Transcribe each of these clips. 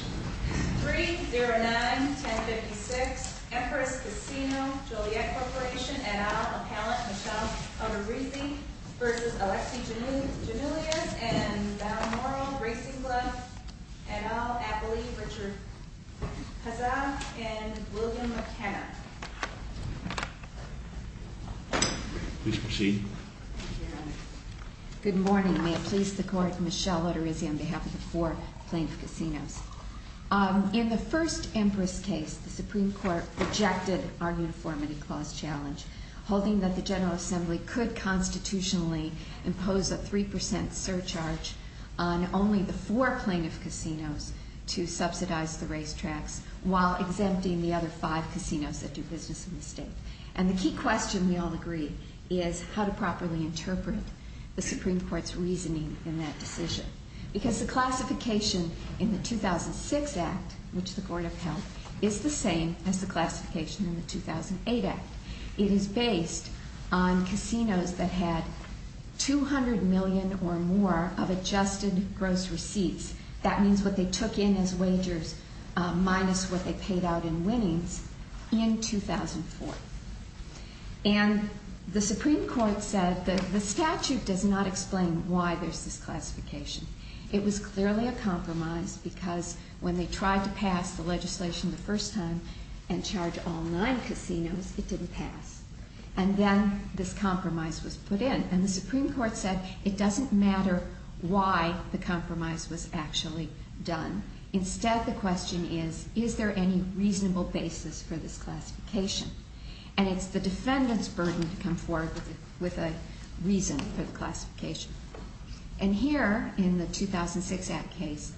3-09-1056 Empress Casino Joliet Corporation et al, appellant Michelle Oterizzi v. Alexi Giannoulias and Val Moral, Gracie Glove, et al, Abilie Richard-Hazard, and William McKenna. Please proceed. Thank you, Your Honor. Good morning. May it please the Court, Michelle Oterizzi on behalf of the four plaintiff casinos. In the first Empress case, the Supreme Court rejected our uniformity clause challenge, holding that the General Assembly could constitutionally impose a 3% surcharge on only the four plaintiff casinos to subsidize the racetracks, while exempting the other five casinos that do business in the state. And the key question, we all agree, is how to properly interpret the Supreme Court's reasoning in that decision. Because the classification in the 2006 act, which the court upheld, is the same as the classification in the 2008 act. It is based on casinos that had 200 million or more of adjusted gross receipts. That means what they took in as wagers minus what they paid out in winnings in 2004. And the Supreme Court said that the statute does not explain why there's this classification. It was clearly a compromise because when they tried to pass the legislation the first time and charge all nine casinos, it didn't pass, and then this compromise was put in. And the Supreme Court said it doesn't matter why the compromise was actually done. Instead, the question is, is there any reasonable basis for this classification? And it's the defendant's burden to come forward with a reason for the classification. And here, in the 2006 act case,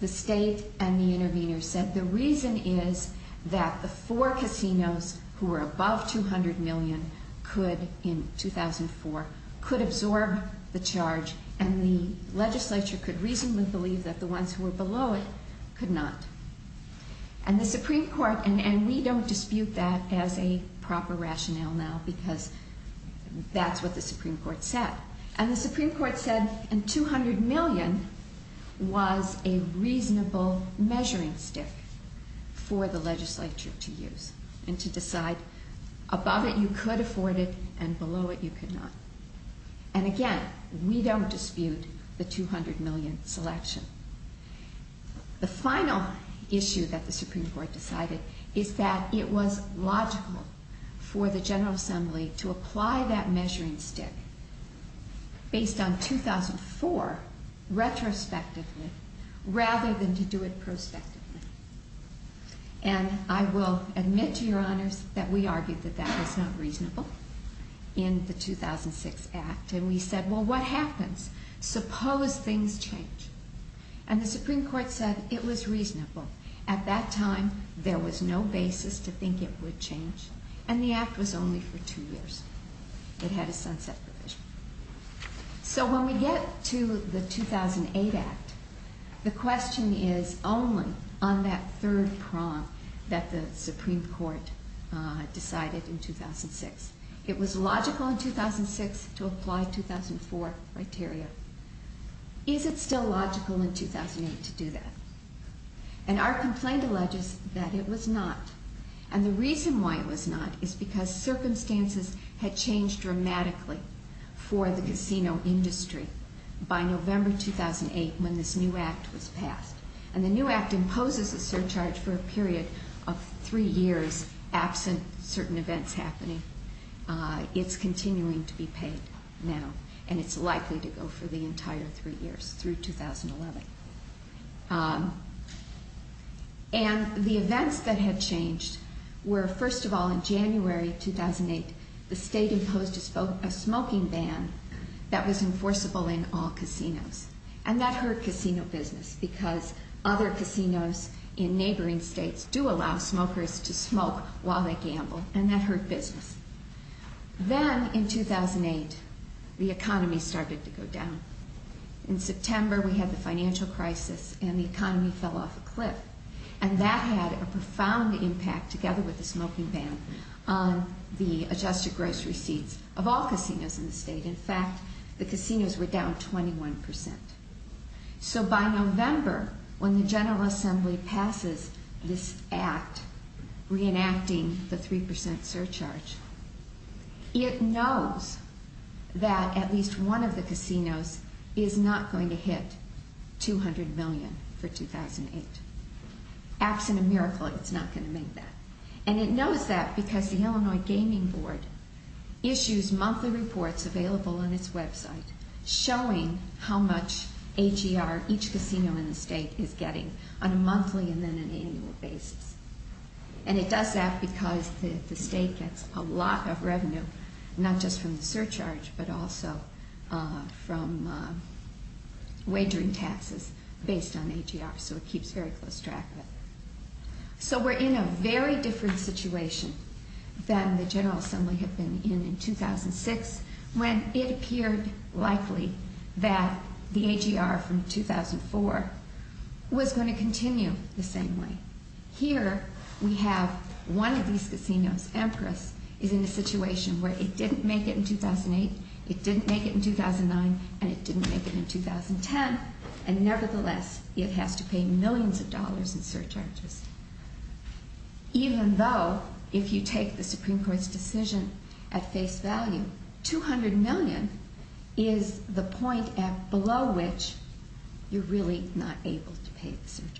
the state and the intervener said the reason is that the four casinos who were above 200 million could, in 2004, could absorb the charge, and the legislature could reasonably believe that the ones who were below it could not. And the Supreme Court, and we don't dispute that as a proper rationale now, because that's what the Supreme Court said. And the Supreme Court said, and 200 million was a reasonable measuring stick for the legislature to use and to decide. Above it, you could afford it, and below it, you could not. And again, we don't dispute the 200 million selection. The final issue that the Supreme Court decided is that it was logical for the General Assembly to apply that measuring stick based on 2004 retrospectively rather than to do it prospectively. And I will admit to your honors that we argued that that was not reasonable in the 2006 act. And we said, well, what happens? Suppose things change. And the Supreme Court said it was reasonable. At that time, there was no basis to think it would change. And the act was only for two years. It had a sunset provision. So when we get to the 2008 act, the question is only on that third prong that the Supreme Court decided in 2006. It was logical in 2006 to apply 2004 criteria. Is it still logical in 2008 to do that? And our complaint alleges that it was not. And the reason why it was not is because circumstances had changed dramatically. For the casino industry by November 2008 when this new act was passed. And the new act imposes a surcharge for a period of three years absent certain events happening. It's continuing to be paid now. And it's likely to go for the entire three years through 2011. And the events that had changed were, first of all, in January 2008, the state imposed a smoking ban that was enforceable in all casinos. And that hurt casino business, because other casinos in neighboring states do allow smokers to smoke while they gamble, and that hurt business. Then in 2008, the economy started to go down. In September, we had the financial crisis, and the economy fell off a cliff. And that had a profound impact, together with the smoking ban, on the adjusted gross receipts of all casinos in the state. In fact, the casinos were down 21%. So by November, when the General Assembly passes this act, reenacting the 3% surcharge, it knows that at least one of the casinos is not going to hit 200 million for 2008. Acts in a miracle, it's not going to make that. And it knows that because the Illinois Gaming Board issues monthly reports available on its website showing how much AGR each casino in the state is getting on a monthly and then an annual basis. And it does that because the state gets a lot of revenue, not just from the surcharge, but also from wagering taxes based on AGR. So it keeps very close track of it. So we're in a very different situation than the General Assembly had been in in 2006, when it appeared likely that the AGR from 2004 was going to continue the same way. Here, we have one of these casinos, Empress, is in a situation where it didn't make it in 2008, it didn't make it in 2009, and it didn't make it in 2010. And nevertheless, it has to pay millions of dollars in surcharges. Even though, if you take the Supreme Court's decision at face value, 200 million is the point at below which you're really not able to pay the surcharge.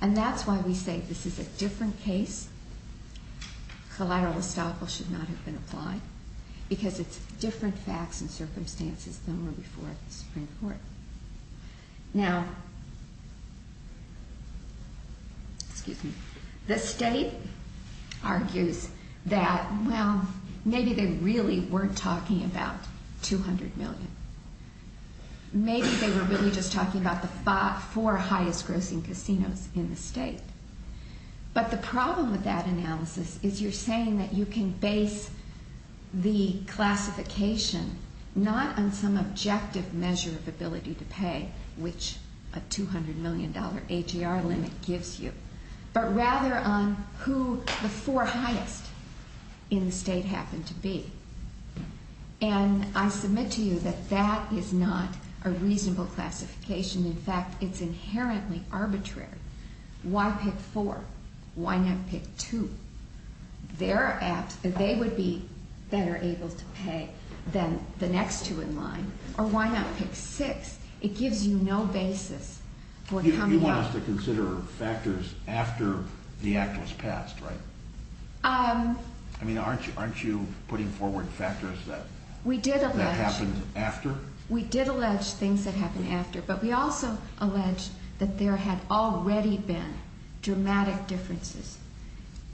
And that's why we say this is a different case. Collateral estoppel should not have been applied, because it's different facts and circumstances than were before the Supreme Court. Now, excuse me. The state argues that, well, maybe they really weren't talking about 200 million. Maybe they were really just talking about the four highest grossing casinos in the state. But the problem with that analysis is you're saying that you can base the classification not on some objective measure of ability to pay, which a $200 million AGR limit gives you, but rather on who the four highest in the state happen to be. And I submit to you that that is not a reasonable classification. In fact, it's inherently arbitrary. Why pick four? Why not pick two? They would be better able to pay than the next two in line. Or why not pick six? It gives you no basis for coming up- You want us to consider factors after the act was passed, right? I mean, aren't you putting forward factors that happened after? We did allege things that happened after, but we also allege that there had already been dramatic differences.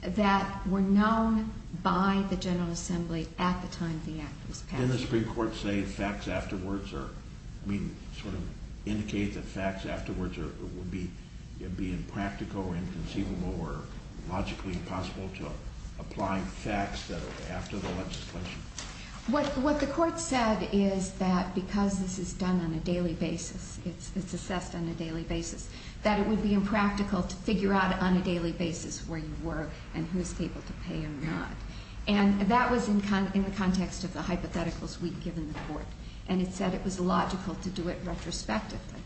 That were known by the General Assembly at the time the act was passed. Didn't the Supreme Court say facts afterwards or, I mean, sort of indicate that facts afterwards would be impractical or inconceivable or logically impossible to apply facts that are after the legislation? What the court said is that because this is done on a daily basis, it's assessed on a daily basis, that it would be impractical to figure out on a daily basis where you were and who's able to pay or not. And that was in the context of the hypotheticals we'd given the court. And it said it was logical to do it retrospectively.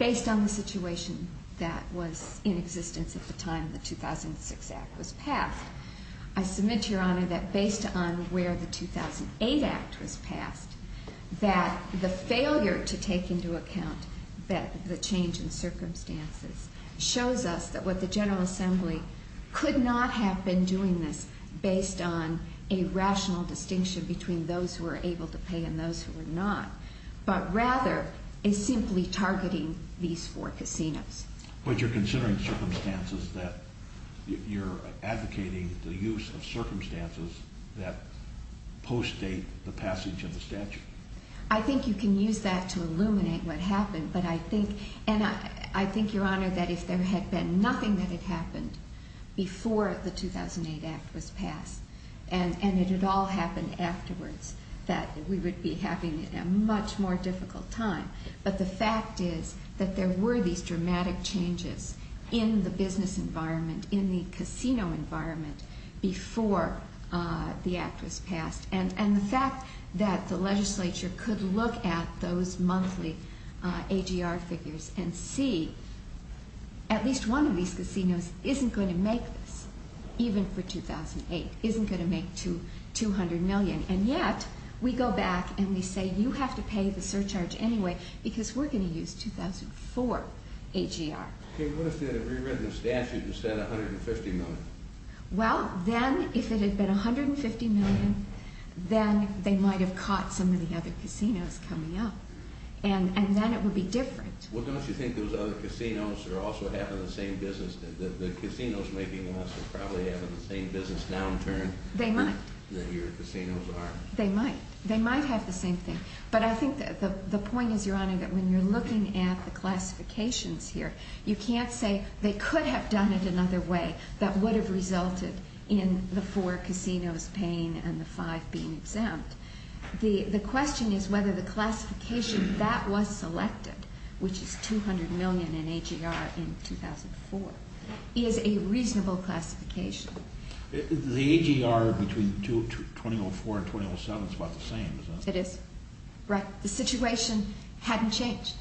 Based on the situation that was in existence at the time the 2006 act was passed. I submit to your honor that based on where the 2008 act was passed, that the failure to take into account that the change in circumstances shows us that what the General Assembly could not have been doing this based on a rational distinction between those who are able to pay and those who are not. But rather is simply targeting these four casinos. But you're considering circumstances that you're advocating the use of circumstances that post-date the passage of the statute. I think you can use that to illuminate what happened, but I think, and I think, your honor, that if there had been nothing that had happened before the 2008 act was passed. And it had all happened afterwards, that we would be having a much more difficult time. But the fact is that there were these dramatic changes in the business environment, in the casino environment, before the act was passed. And the fact that the legislature could look at those monthly AGR figures and see at least one of these casinos isn't going to make this, even for 2008, isn't going to make 200 million. And yet, we go back and we say, you have to pay the surcharge anyway, because we're going to use 2004 AGR. Okay, what if they had rewritten the statute and said 150 million? Well, then if it had been 150 million, then they might have caught some of the other casinos coming up. And then it would be different. Well, don't you think those other casinos are also having the same business, that the casinos may be less and probably having the same business downturn? They might. That your casinos are. They might. They might have the same thing. But I think the point is, your honor, that when you're looking at the classifications here, you can't say they could have done it another way that would have resulted in the four casinos paying and the five being exempt. The question is whether the classification that was selected, which is 200 million in AGR in 2004, is a reasonable classification. The AGR between 2004 and 2007 is about the same, isn't it? It is. Right. The situation hadn't changed.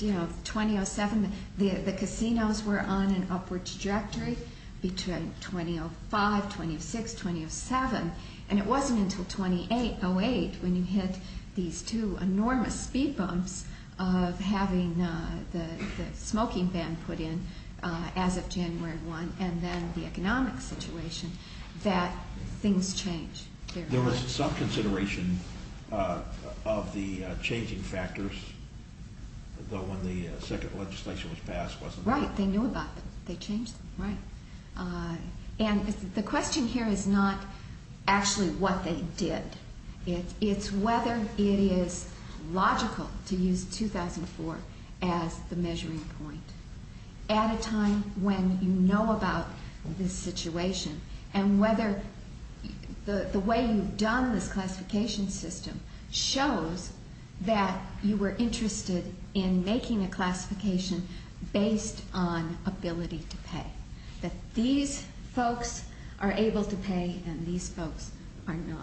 You know, 2007, the casinos were on an upward trajectory between 2005, 2006, 2007. And it wasn't until 2008 when you hit these two enormous speed bumps of having the smoking ban put in as of January 1, and then the economic situation, that things changed. There was some consideration of the changing factors, though when the second legislation was passed, wasn't there? Right. They knew about them. They changed them. Right. And the question here is not actually what they did. It's whether it is logical to use 2004 as the measuring point at a time when you know about this situation. And whether the way you've done this classification system shows that you were interested in making a classification based on ability to pay. That these folks are able to pay, and these folks are not.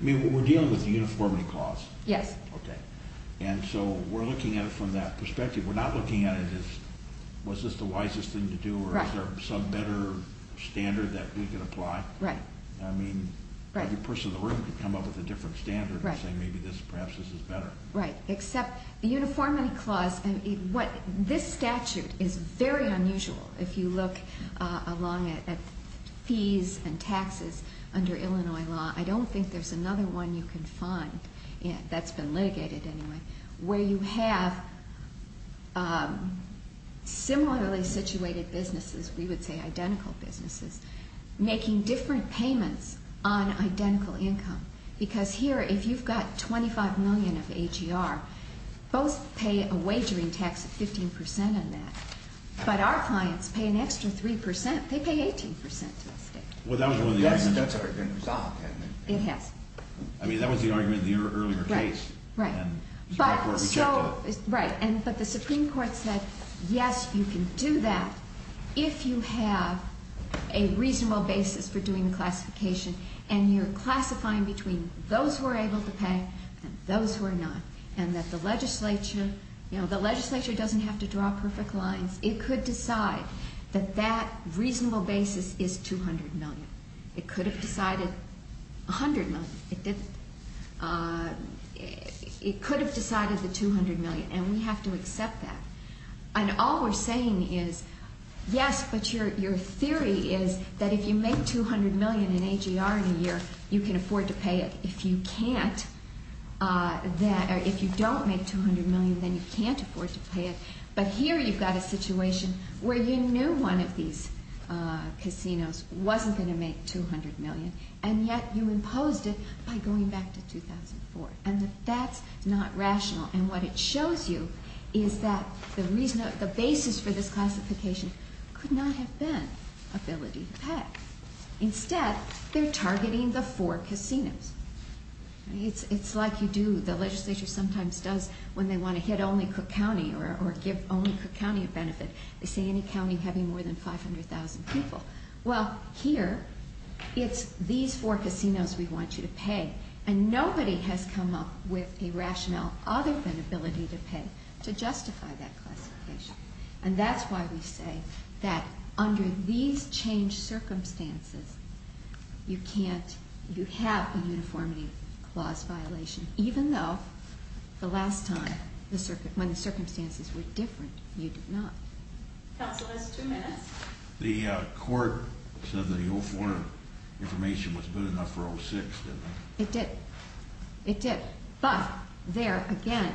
I mean, we're dealing with a uniformity clause. Yes. Okay. And so we're looking at it from that perspective. We're not looking at it as, was this the wisest thing to do, or is there some better standard that we could apply? Right. I mean, every person in the room could come up with a different standard and say, maybe this, perhaps this is better. Right. Except the uniformity clause, this statute is very unusual if you look along it at fees and taxes under Illinois law. I don't think there's another one you can find that's been litigated anyway, where you have similarly situated businesses, we would say identical businesses, making different payments on identical income. Because here, if you've got $25 million of AGR, both pay a wagering tax of 15% on that. But our clients pay an extra 3%. They pay 18% to the state. Well, that was one of the arguments. That's already been resolved, hasn't it? It has. I mean, that was the argument in the earlier case. Right. And the Supreme Court rejected it. Right. But the Supreme Court said, yes, you can do that if you have a reasonable basis for doing the classification. And you're classifying between those who are able to pay and those who are not. And that the legislature, you know, the legislature doesn't have to draw perfect lines. It could decide that that reasonable basis is $200 million. It could have decided $100 million. It didn't. It could have decided the $200 million. And we have to accept that. And all we're saying is, yes, but your theory is that if you make $200 million in AGR in a year, you can afford to pay it. If you can't, if you don't make $200 million, then you can't afford to pay it. But here, you've got a situation where you knew one of these casinos wasn't going to make $200 million. And yet, you imposed it by going back to 2004. And that's not rational. And what it shows you is that the basis for this classification could not have been ability to pay. Instead, they're targeting the four casinos. It's like you do, the legislature sometimes does when they want to hit only Cook County or give only Cook County a benefit. They say any county having more than 500,000 people. Well, here, it's these four casinos we want you to pay. And nobody has come up with a rationale other than ability to pay to justify that classification. And that's why we say that under these changed circumstances, you can't, you have a uniformity clause violation, even though the last time, when the circumstances were different, you did not. Counsel, that's two minutes. The court said that the old form of information was good enough for 06, didn't it? It did. It did. But there, again,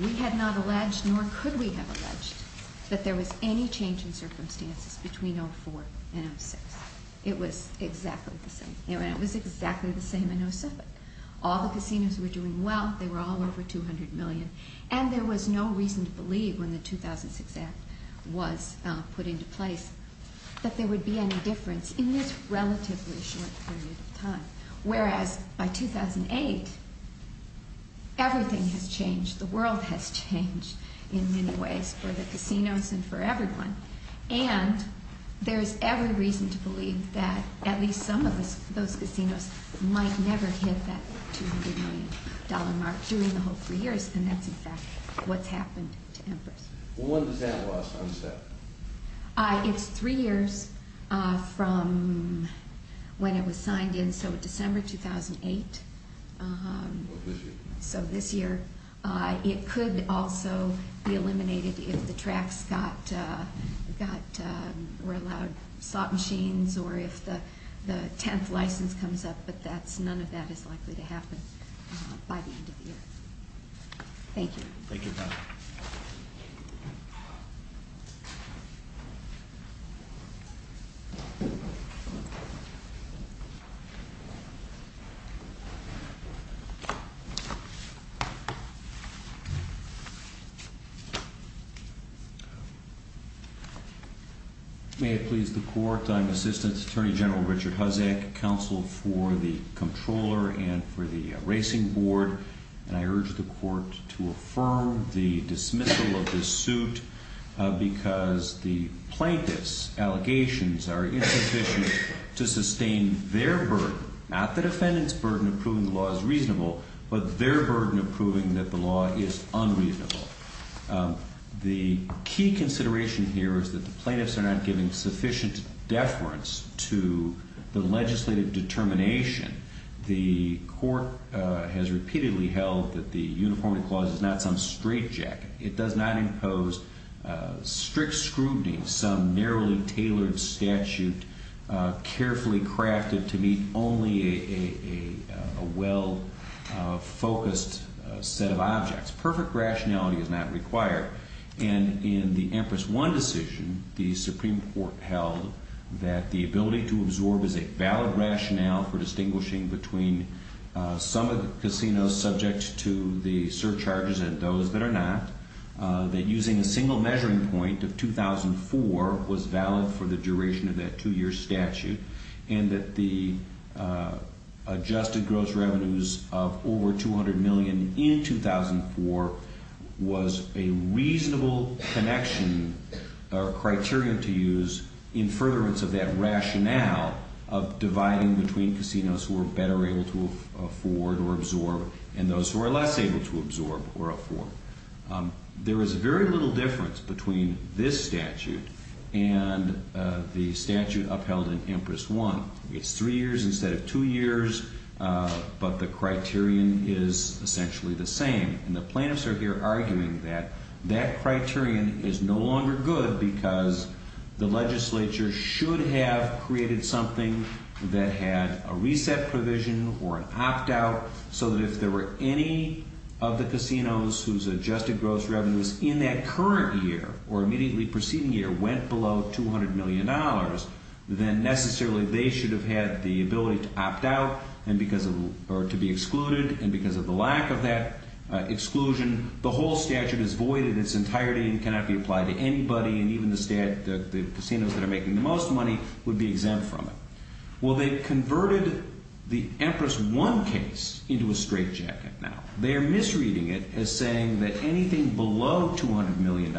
we had not alleged, nor could we have alleged, that there was any change in circumstances between 04 and 06. It was exactly the same. It was exactly the same in 07. All the casinos were doing well. They were all over $200 million. And there was no reason to believe when the 2006 Act was put into place that there would be any difference in this relatively short period of time. Whereas, by 2008, everything has changed. The world has changed in many ways for the casinos and for everyone. And there's every reason to believe that at least some of those casinos might never hit that $200 million mark during the whole three years. And that's, in fact, what's happened to Empress. Well, when does that last? It's three years from when it was signed in. So December 2008. So this year. It could also be eliminated if the tracks got, were allowed slot machines, or if the 10th license comes up. But none of that is likely to happen by the end of the year. Thank you. Thank you, Pat. Thank you. May it please the Court. I'm Assistant Attorney General Richard Huzik, Counsel for the Comptroller and for the Racing Board. And I urge the Court to affirm the dismissal of this suit because the plaintiffs' allegations are insufficient to sustain their burden. Not the defendant's burden of proving the law is reasonable, but their burden of proving that the law is unreasonable. The key consideration here is that the plaintiffs are not giving sufficient deference to the legislative determination. The Court has repeatedly held that the Uniformity Clause is not some straitjacket. It does not impose strict scrutiny, some narrowly tailored statute, carefully crafted to meet only a well-focused set of objects. Perfect rationality is not required. And in the Empress One decision, the Supreme Court held that the ability to absorb as a valid rationale for distinguishing between some of the casinos subject to the surcharges and those that are not, that using a single measuring point of 2004 was valid for the duration of that two-year statute, and that the adjusted gross revenues of over $200 million in 2004 was a reasonable connection or criterion to use in furtherance of that rationale of dividing between casinos who are better able to afford or absorb and those who are less able to absorb or afford. There is very little difference between this statute and the statute upheld in Empress One. It's three years instead of two years, but the criterion is essentially the same. And the plaintiffs are here arguing that that criterion is no longer good because the legislature should have created something that had a reset provision or an opt-out so that if there were any of the casinos whose adjusted gross revenues in that current year or immediately preceding year went below $200 million, then necessarily they should have had the ability to opt out or to be excluded. And because of the lack of that exclusion, the whole statute is void in its entirety and cannot be applied to anybody. And even the casinos that are making the most money would be exempt from it. Well, they converted the Empress One case into a straitjacket now. They are misreading it as saying that anything below $200 million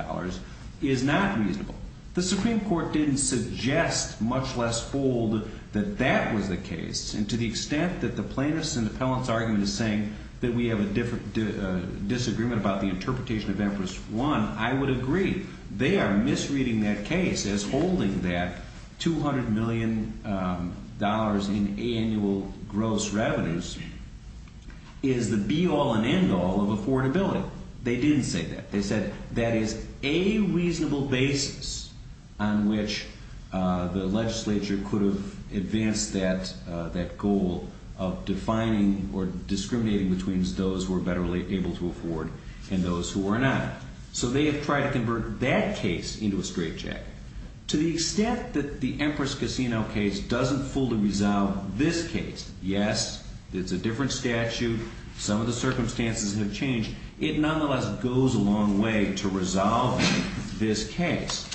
is not reasonable. The Supreme Court didn't suggest, much less fold, that that was the case. And to the extent that the plaintiffs' and the appellants' argument is saying that we have a disagreement about the interpretation of Empress One, I would agree. They are misreading that case as holding that $200 million in annual gross revenues is the be-all and end-all of affordability. They didn't say that. They said that is a reasonable basis on which the legislature could have advanced that goal of defining or discriminating between those who are better able to afford and those who are not. So they have tried to convert that case into a straitjacket. To the extent that the Empress Casino case doesn't fully resolve this case, yes, it's a different statute. Some of the circumstances have changed. It nonetheless goes a long way to resolve this case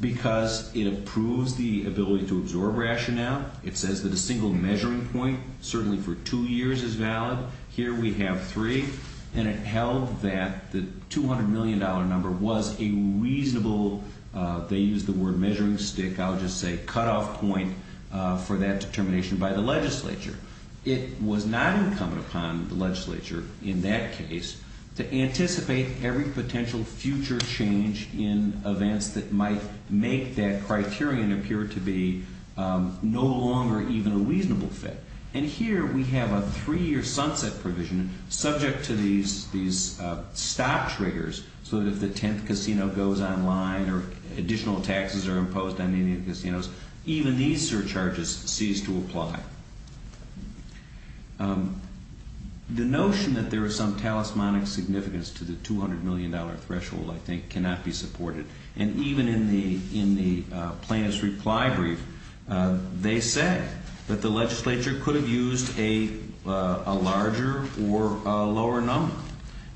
because it approves the ability to absorb rationale. It says that a single measuring point, certainly for two years, is valid. Here we have three. And it held that the $200 million number was a reasonable, they used the word measuring stick, I would just say cutoff point for that determination by the legislature. It was not incumbent upon the legislature in that case to anticipate every potential future change in events that might make that criterion appear to be no longer even a reasonable fit. And here we have a three-year sunset provision subject to these stop triggers so that if the 10th casino goes online or additional taxes are imposed on any of the casinos, even these surcharges cease to apply. The notion that there is some talismanic significance to the $200 million threshold, I think, cannot be supported. And even in the plaintiff's reply brief, they said that the legislature could have used a larger or a lower number.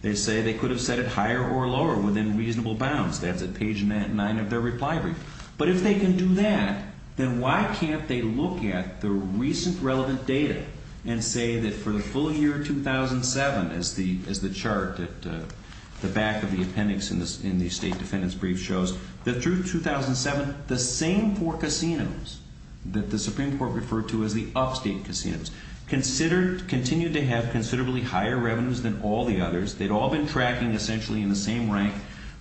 They say they could have set it higher or lower within reasonable bounds. That's at page 9 of their reply brief. But if they can do that, then why can't they look at the recent relevant data and say that for the full year 2007, as the chart at the back of the appendix in the State Defendant's reply brief shows, that through 2007, the same four casinos that the Supreme Court referred to as the upstate casinos continued to have considerably higher revenues than all the others. They'd all been tracking essentially in the same rank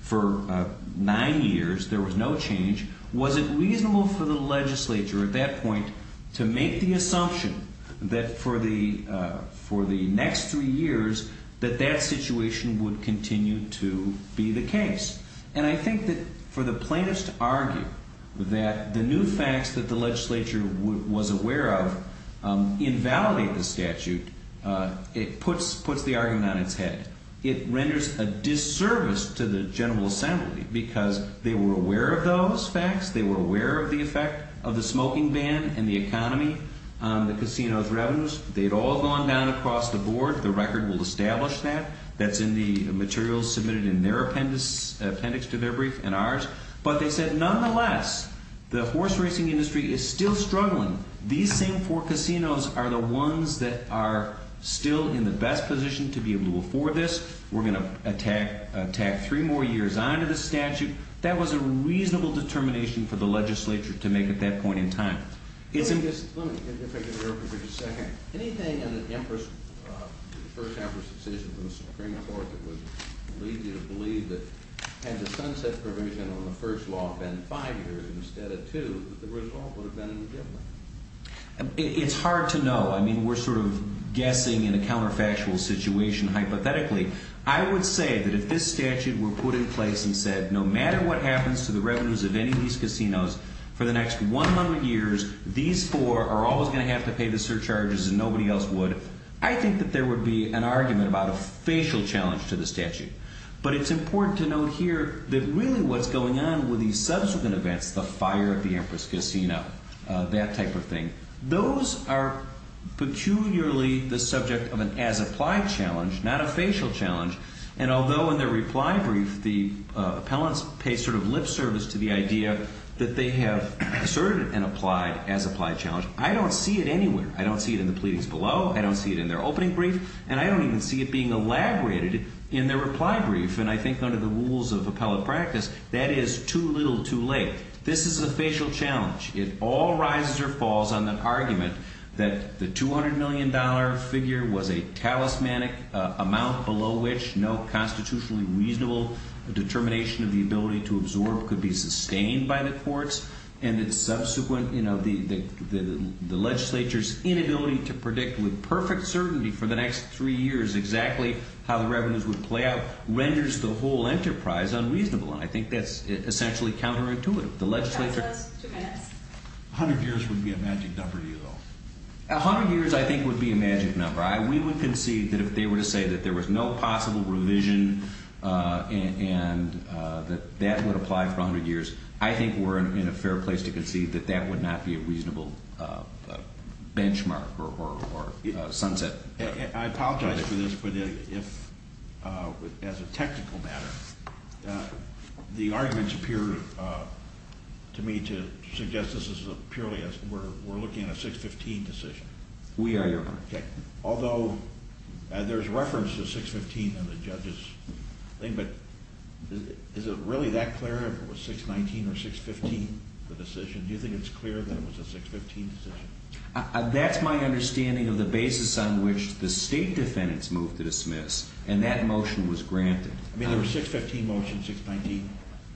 for nine years. There was no change. Was it reasonable for the legislature at that point to make the assumption that for the next three years, that that situation would continue to be the case? And I think that for the plaintiffs to argue that the new facts that the legislature was aware of invalidate the statute, it puts the argument on its head. It renders a disservice to the General Assembly because they were aware of those facts. They were aware of the effect of the smoking ban and the economy on the casino's revenues. They'd all gone down across the board. The record will establish that. That's in the materials submitted in their appendix to their brief and ours. But they said, nonetheless, the horse racing industry is still struggling. These same four casinos are the ones that are still in the best position to be able to afford this. We're going to tack three more years on to the statute. That was a reasonable determination for the legislature to make at that point in time. Let me just interject a little bit. Anything in the first Empress decision of the Supreme Court that would lead you to believe that had the sunset provision on the first law been five years instead of two, that the result would have been any different? It's hard to know. I mean, we're sort of guessing in a counterfactual situation, hypothetically. I would say that if this statute were put in place and said, no matter what happens to the revenues of any of these casinos for the next 100 years, these four are always going to have to pay the surcharges and nobody else would, I think that there would be an argument about a facial challenge to the statute. But it's important to note here that really what's going on with these subsequent events, the fire at the Empress Casino, that type of thing, those are peculiarly the subject of an as-applied challenge, not a facial challenge. And although in their reply brief, the appellants pay sort of lip service to the idea that they have asserted an applied as-applied challenge, I don't see it anywhere. I don't see it in the pleadings below. I don't see it in their opening brief. And I don't even see it being elaborated in their reply brief. And I think under the rules of appellate practice, that is too little too late. This is a facial challenge. It all rises or falls on the argument that the $200 million figure was a talismanic amount below which no constitutionally reasonable determination of the ability to absorb could be sustained by the courts. And that subsequent, you know, the legislature's inability to predict with perfect certainty for the next three years exactly how the revenues would play out renders the whole enterprise unreasonable. And I think that's essentially counterintuitive. The legislature- That was two minutes. A hundred years would be a magic number to you, though. A hundred years, I think, would be a magic number. We would concede that if they were to say that there was no possible revision and that that would apply for a hundred years, I think we're in a fair place to concede that that would not be a reasonable benchmark or sunset. I apologize for this, but if, as a technical matter, the arguments appear to me to suggest this is purely a- we're looking at a 615 decision. We are, Your Honor. Okay. Although there's reference to 615 in the judge's thing, but is it really that clear if it was 619 or 615, the decision? Do you think it's clear that it was a 615 decision? That's my understanding of the basis on which the state defendants moved to dismiss, and that motion was granted. I mean, there was a 615 motion, 619.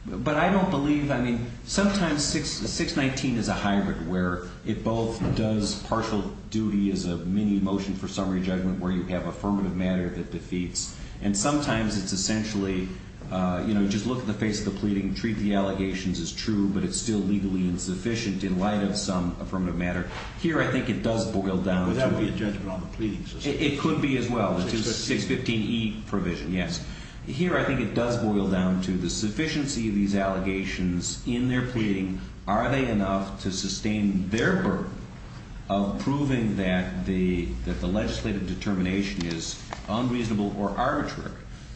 But I don't believe- I mean, sometimes 619 is a hybrid where it both does partial duty as a mini motion for summary judgment where you have affirmative matter that defeats. And sometimes it's essentially, you know, just look at the face of the pleading, treat the allegations as true, but it's still legally insufficient in light of some affirmative matter. Here, I think it does boil down to- Would that be a judgment on the pleading system? It could be as well, which is 615E provision, yes. Here, I think it does boil down to the sufficiency of these allegations in their pleading. Are they enough to sustain their burden of proving that the legislative determination is unreasonable or arbitrary?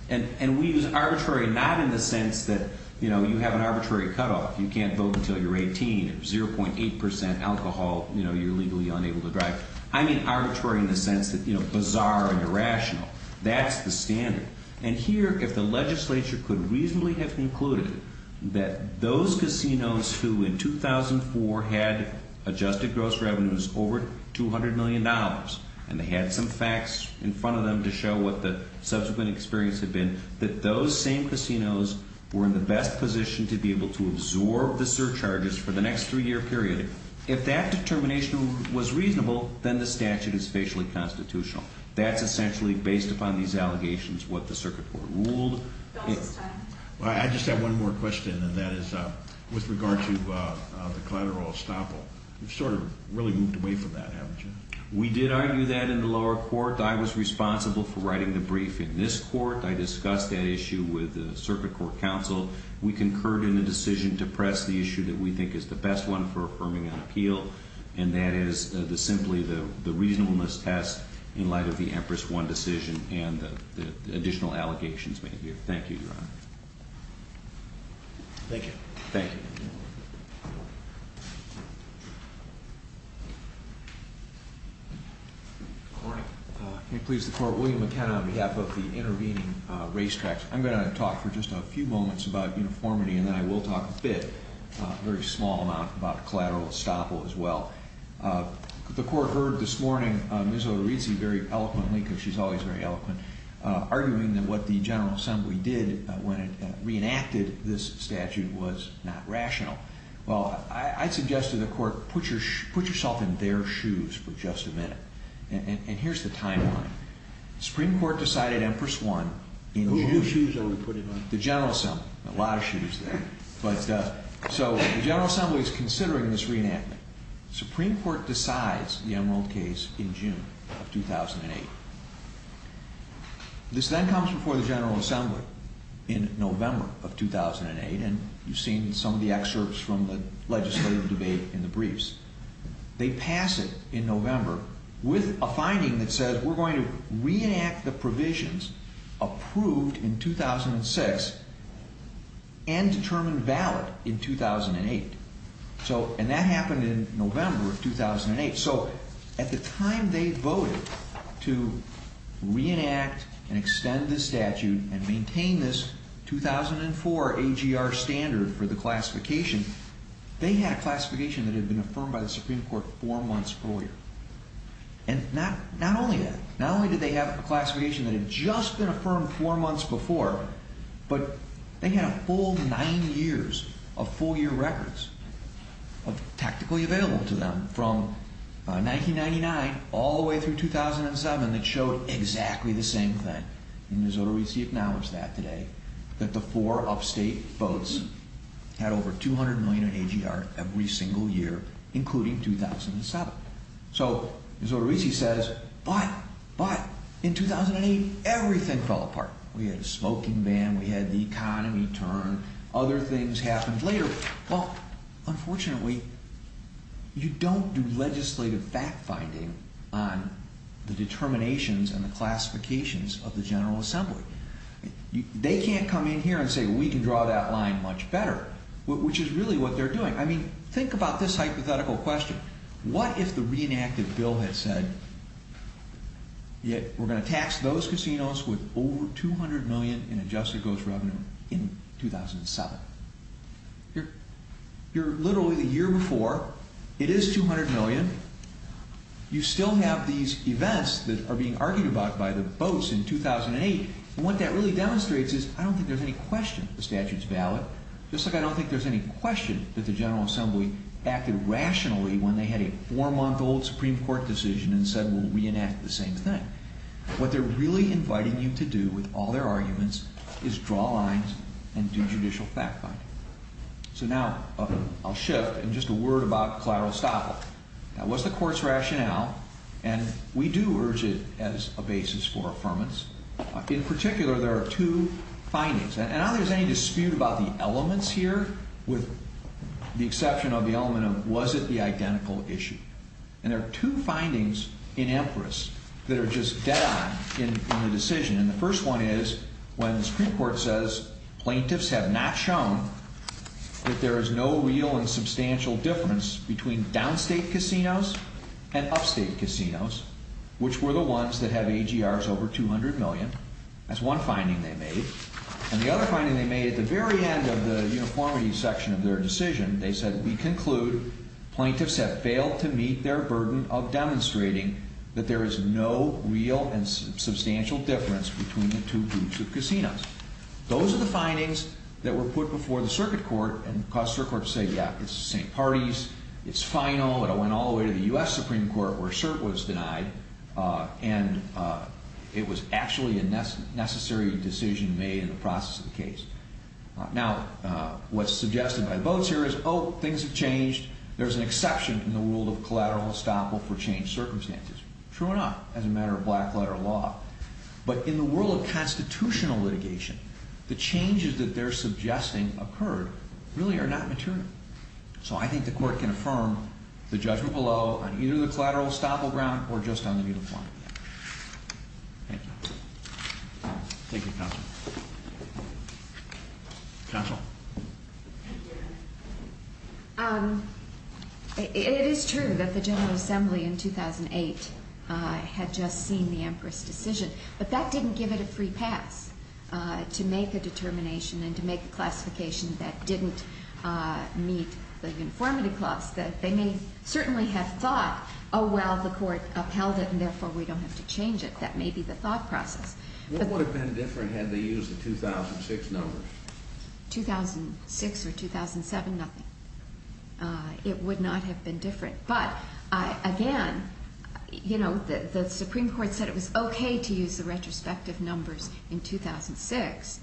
And we use arbitrary not in the sense that, you know, you have an arbitrary cutoff, you can't vote until you're 18, 0.8% alcohol, you know, you're legally unable to drive. I mean arbitrary in the sense that, you know, bizarre and irrational. That's the standard. And here, if the legislature could reasonably have concluded that those casinos who in 2004 had adjusted gross revenues over $200 million, and they had some facts in front of them to show what the subsequent experience had been, that those same casinos were in the best position to be able to absorb the surcharges for the next three-year period. If that determination was reasonable, then the statute is facially constitutional. That's essentially, based upon these allegations, what the circuit court ruled. I just have one more question, and that is with regard to the collateral estoppel. You've sort of really moved away from that, haven't you? We did argue that in the lower court. I was responsible for writing the brief in this court. I discussed that issue with the circuit court counsel. We concurred in the decision to press the issue that we think is the best one for affirming on appeal, and that is simply the reasonableness test in light of the Empress One decision and the additional allegations made here. Thank you, Your Honor. Thank you. Thank you. Good morning. Can you please declare William McKenna on behalf of the intervening racetracks? I'm going to talk for just a few moments about uniformity, and then I will talk a bit, a very small amount, about collateral estoppel as well. The court heard this morning Ms. Orizzi very eloquently, because she's always very eloquent, arguing that what the General Assembly did when it reenacted this statute was not rational. Well, I suggested to the court, put yourself in their shoes for just a minute. And here's the timeline. Supreme Court decided Empress One in June. Who's shoes are we putting on? The General Assembly. A lot of shoes there. But so the General Assembly is considering this reenactment. Supreme Court decides the Emerald case in June of 2008. This then comes before the General Assembly in November of 2008, and you've seen some of the excerpts from the legislative debate in the briefs. They pass it in November with a finding that says we're going to reenact the provisions approved in 2006 and determine valid in 2008. So, and that happened in November of 2008. So at the time they voted to reenact and extend this statute and maintain this 2004 AGR standard for the classification, they had a classification that had been affirmed by the Supreme Court four months earlier. And not only that, not only did they have a classification that had just been affirmed four months before, but they had a full nine years of four-year records of technically available to them from 1999 all the way through 2007 that showed exactly the same thing. In Minnesota we see acknowledged that today, that the four upstate votes had over 200 million in AGR every single year, including 2007. So Missouri says, but, but in 2008, everything fell apart. We had a smoking ban. We had the economy turn. Other things happened later. Well, unfortunately, you don't do legislative fact-finding on the determinations and the classifications of the General Assembly. They can't come in here and say, we can draw that line much better, which is really what they're doing. Think about this hypothetical question. What if the reenacted bill had said, we're going to tax those casinos with over 200 million in adjusted gross revenue in 2007? You're literally the year before. It is 200 million. You still have these events that are being argued about by the votes in 2008. And what that really demonstrates is, I don't think there's any question the statute's valid, just like I don't think there's any question that the General Assembly acted rationally when they had a four-month-old Supreme Court decision and said, we'll reenact the same thing. What they're really inviting you to do with all their arguments is draw lines and do judicial fact-finding. So now I'll shift and just a word about collateral estoppel. That was the Court's rationale, and we do urge it as a basis for affirmance. In particular, there are two findings. And I don't think there's any dispute about the elements here, with the exception of the element of, was it the identical issue? And there are two findings in Amparis that are just dead on in the decision. And the first one is, when the Supreme Court says, plaintiffs have not shown that there is no real and substantial difference between downstate casinos and upstate casinos, which were the ones that have AGRs over 200 million. That's one finding they made. And the other finding they made, at the very end of the uniformity section of their decision, they said, we conclude, plaintiffs have failed to meet their burden of demonstrating that there is no real and substantial difference between the two groups of casinos. Those are the findings that were put before the Circuit Court. And the Court said, yeah, it's the same parties. It's final. And it went all the way to the U.S. Supreme Court, where cert was denied. And it was actually a necessary decision made in the process of the case. Now, what's suggested by the votes here is, oh, things have changed. There's an exception in the world of collateral estoppel for changed circumstances. True enough, as a matter of black-letter law. But in the world of constitutional litigation, the changes that they're suggesting occurred really are not material. So I think the Court can affirm the judgment below, on either the collateral estoppel ground or just on the uniformity. Thank you. Thank you, Counsel. Counsel? It is true that the General Assembly, in 2008, had just seen the Empress decision. But that didn't give it a free pass to make a determination and to make a classification that didn't meet the uniformity clause. They may certainly have thought, oh, well, the Court upheld it, and therefore we don't have to change it. That may be the thought process. What would have been different had they used the 2006 numbers? 2006 or 2007, nothing. It would not have been different. But again, the Supreme Court said it was OK to use the retrospective numbers in 2006.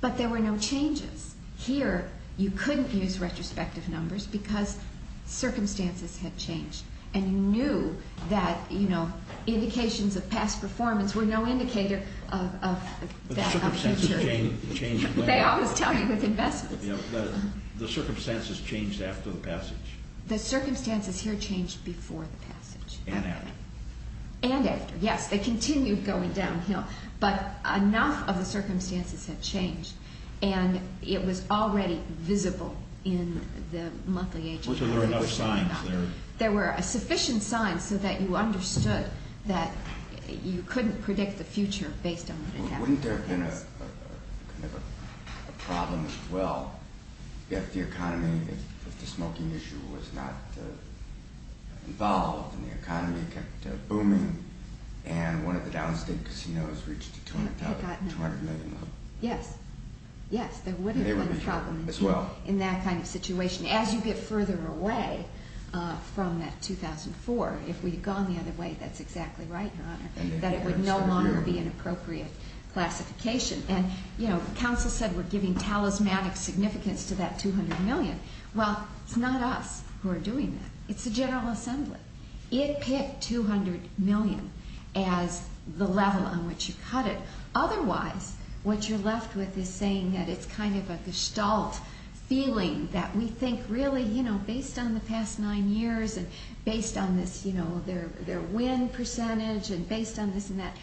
But there were no changes. Here, you couldn't use retrospective numbers because circumstances had changed. And you knew that indications of past performance were no indicator of that future. But the circumstances changed later. They always tell you with investments. The circumstances changed after the passage. The circumstances here changed before the passage. And after. And after. Yes, they continued going downhill. But enough of the circumstances had changed. And it was already visible in the monthly agency. Well, so there were no signs there. There were sufficient signs so that you understood that you couldn't predict the future based on what had happened. Wouldn't there have been a problem as well if the economy, if the smoking issue was not involved, and the economy kept booming, and one of the downstream casinos reached the $200 million level? Yes. Yes, there would have been a problem in that kind of situation. As you get further away from that 2004, if we had gone the other way, that's exactly right, Your Honor, that it would no longer be an appropriate classification. And counsel said we're giving talismanic significance to that $200 million. Well, it's not us who are doing that. It's the General Assembly. It picked $200 million as the level on which you cut it. Otherwise, what you're left with is saying that it's kind of a gestalt feeling that we think really, you know, based on the past nine years, and based on this, you know, their win percentage, and based on this and that,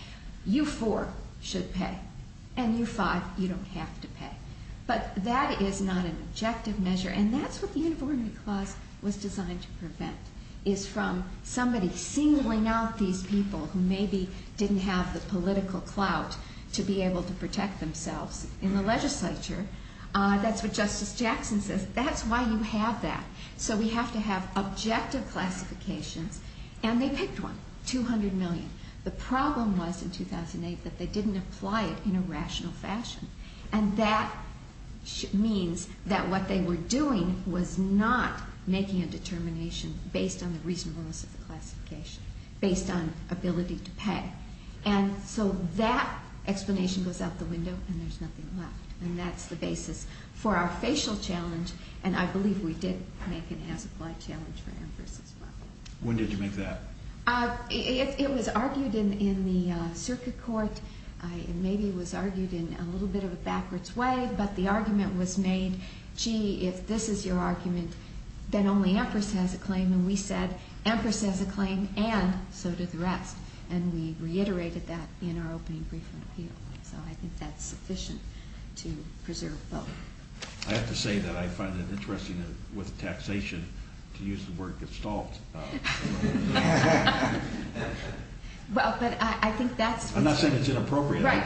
you four should pay, and you five, you don't have to pay. But that is not an objective measure. And that's what the Uniformity Clause was designed to prevent, is from somebody singling out these people who maybe didn't have the political clout to be able to protect themselves in the legislature. That's what Justice Jackson says. That's why you have that. So we have to have objective classifications. And they picked one, $200 million. The problem was in 2008 that they didn't apply it in a rational fashion. And that means that what they were doing was not making a determination based on the reasonableness of the classification. Based on ability to pay. And so that explanation goes out the window, and there's nothing left. And that's the basis for our facial challenge. And I believe we did make an as-applied challenge for Amherst as well. When did you make that? It was argued in the circuit court. It maybe was argued in a little bit of a backwards way, but the argument was made, gee, if this is your argument, then only Amherst has a claim. And we said, Amherst has a claim, and so did the rest. And we reiterated that in our opening briefing appeal. So I think that's sufficient to preserve both. I have to say that I find it interesting with taxation, to use the word gestalt. Well, but I think that's... I'm not saying it's inappropriate. Right,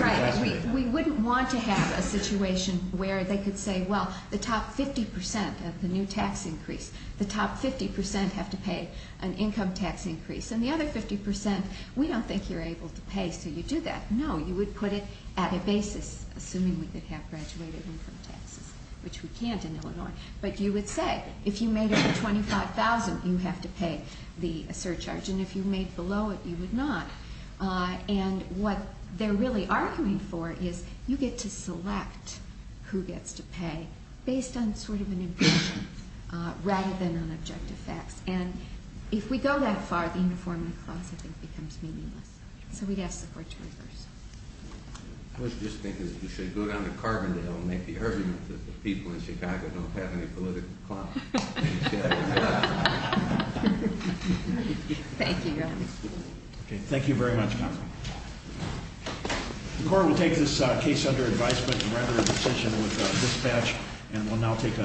right. We wouldn't want to have a situation where they could say, well, the top 50% of the new tax increase, the top 50% have to pay an income tax increase. And the other 50%, we don't think you're able to pay, so you do that. No, you would put it at a basis, assuming we could have graduated income taxes, which we can't in Illinois. But you would say, if you made it to $25,000, you have to pay the surcharge. And if you made below it, you would not. And what they're really arguing for is you get to select who gets to pay based on sort of objective facts rather than on objective facts. And if we go that far, the uniformity clause, I think, becomes meaningless. So we'd have support to reverse. I was just thinking that we should go down to Carbondale and make the argument that the people in Chicago don't have any political clout. Thank you, Your Honor. Okay, thank you very much, counsel. The court will take this case under advisement and rather a decision with dispatch, and we'll now take a...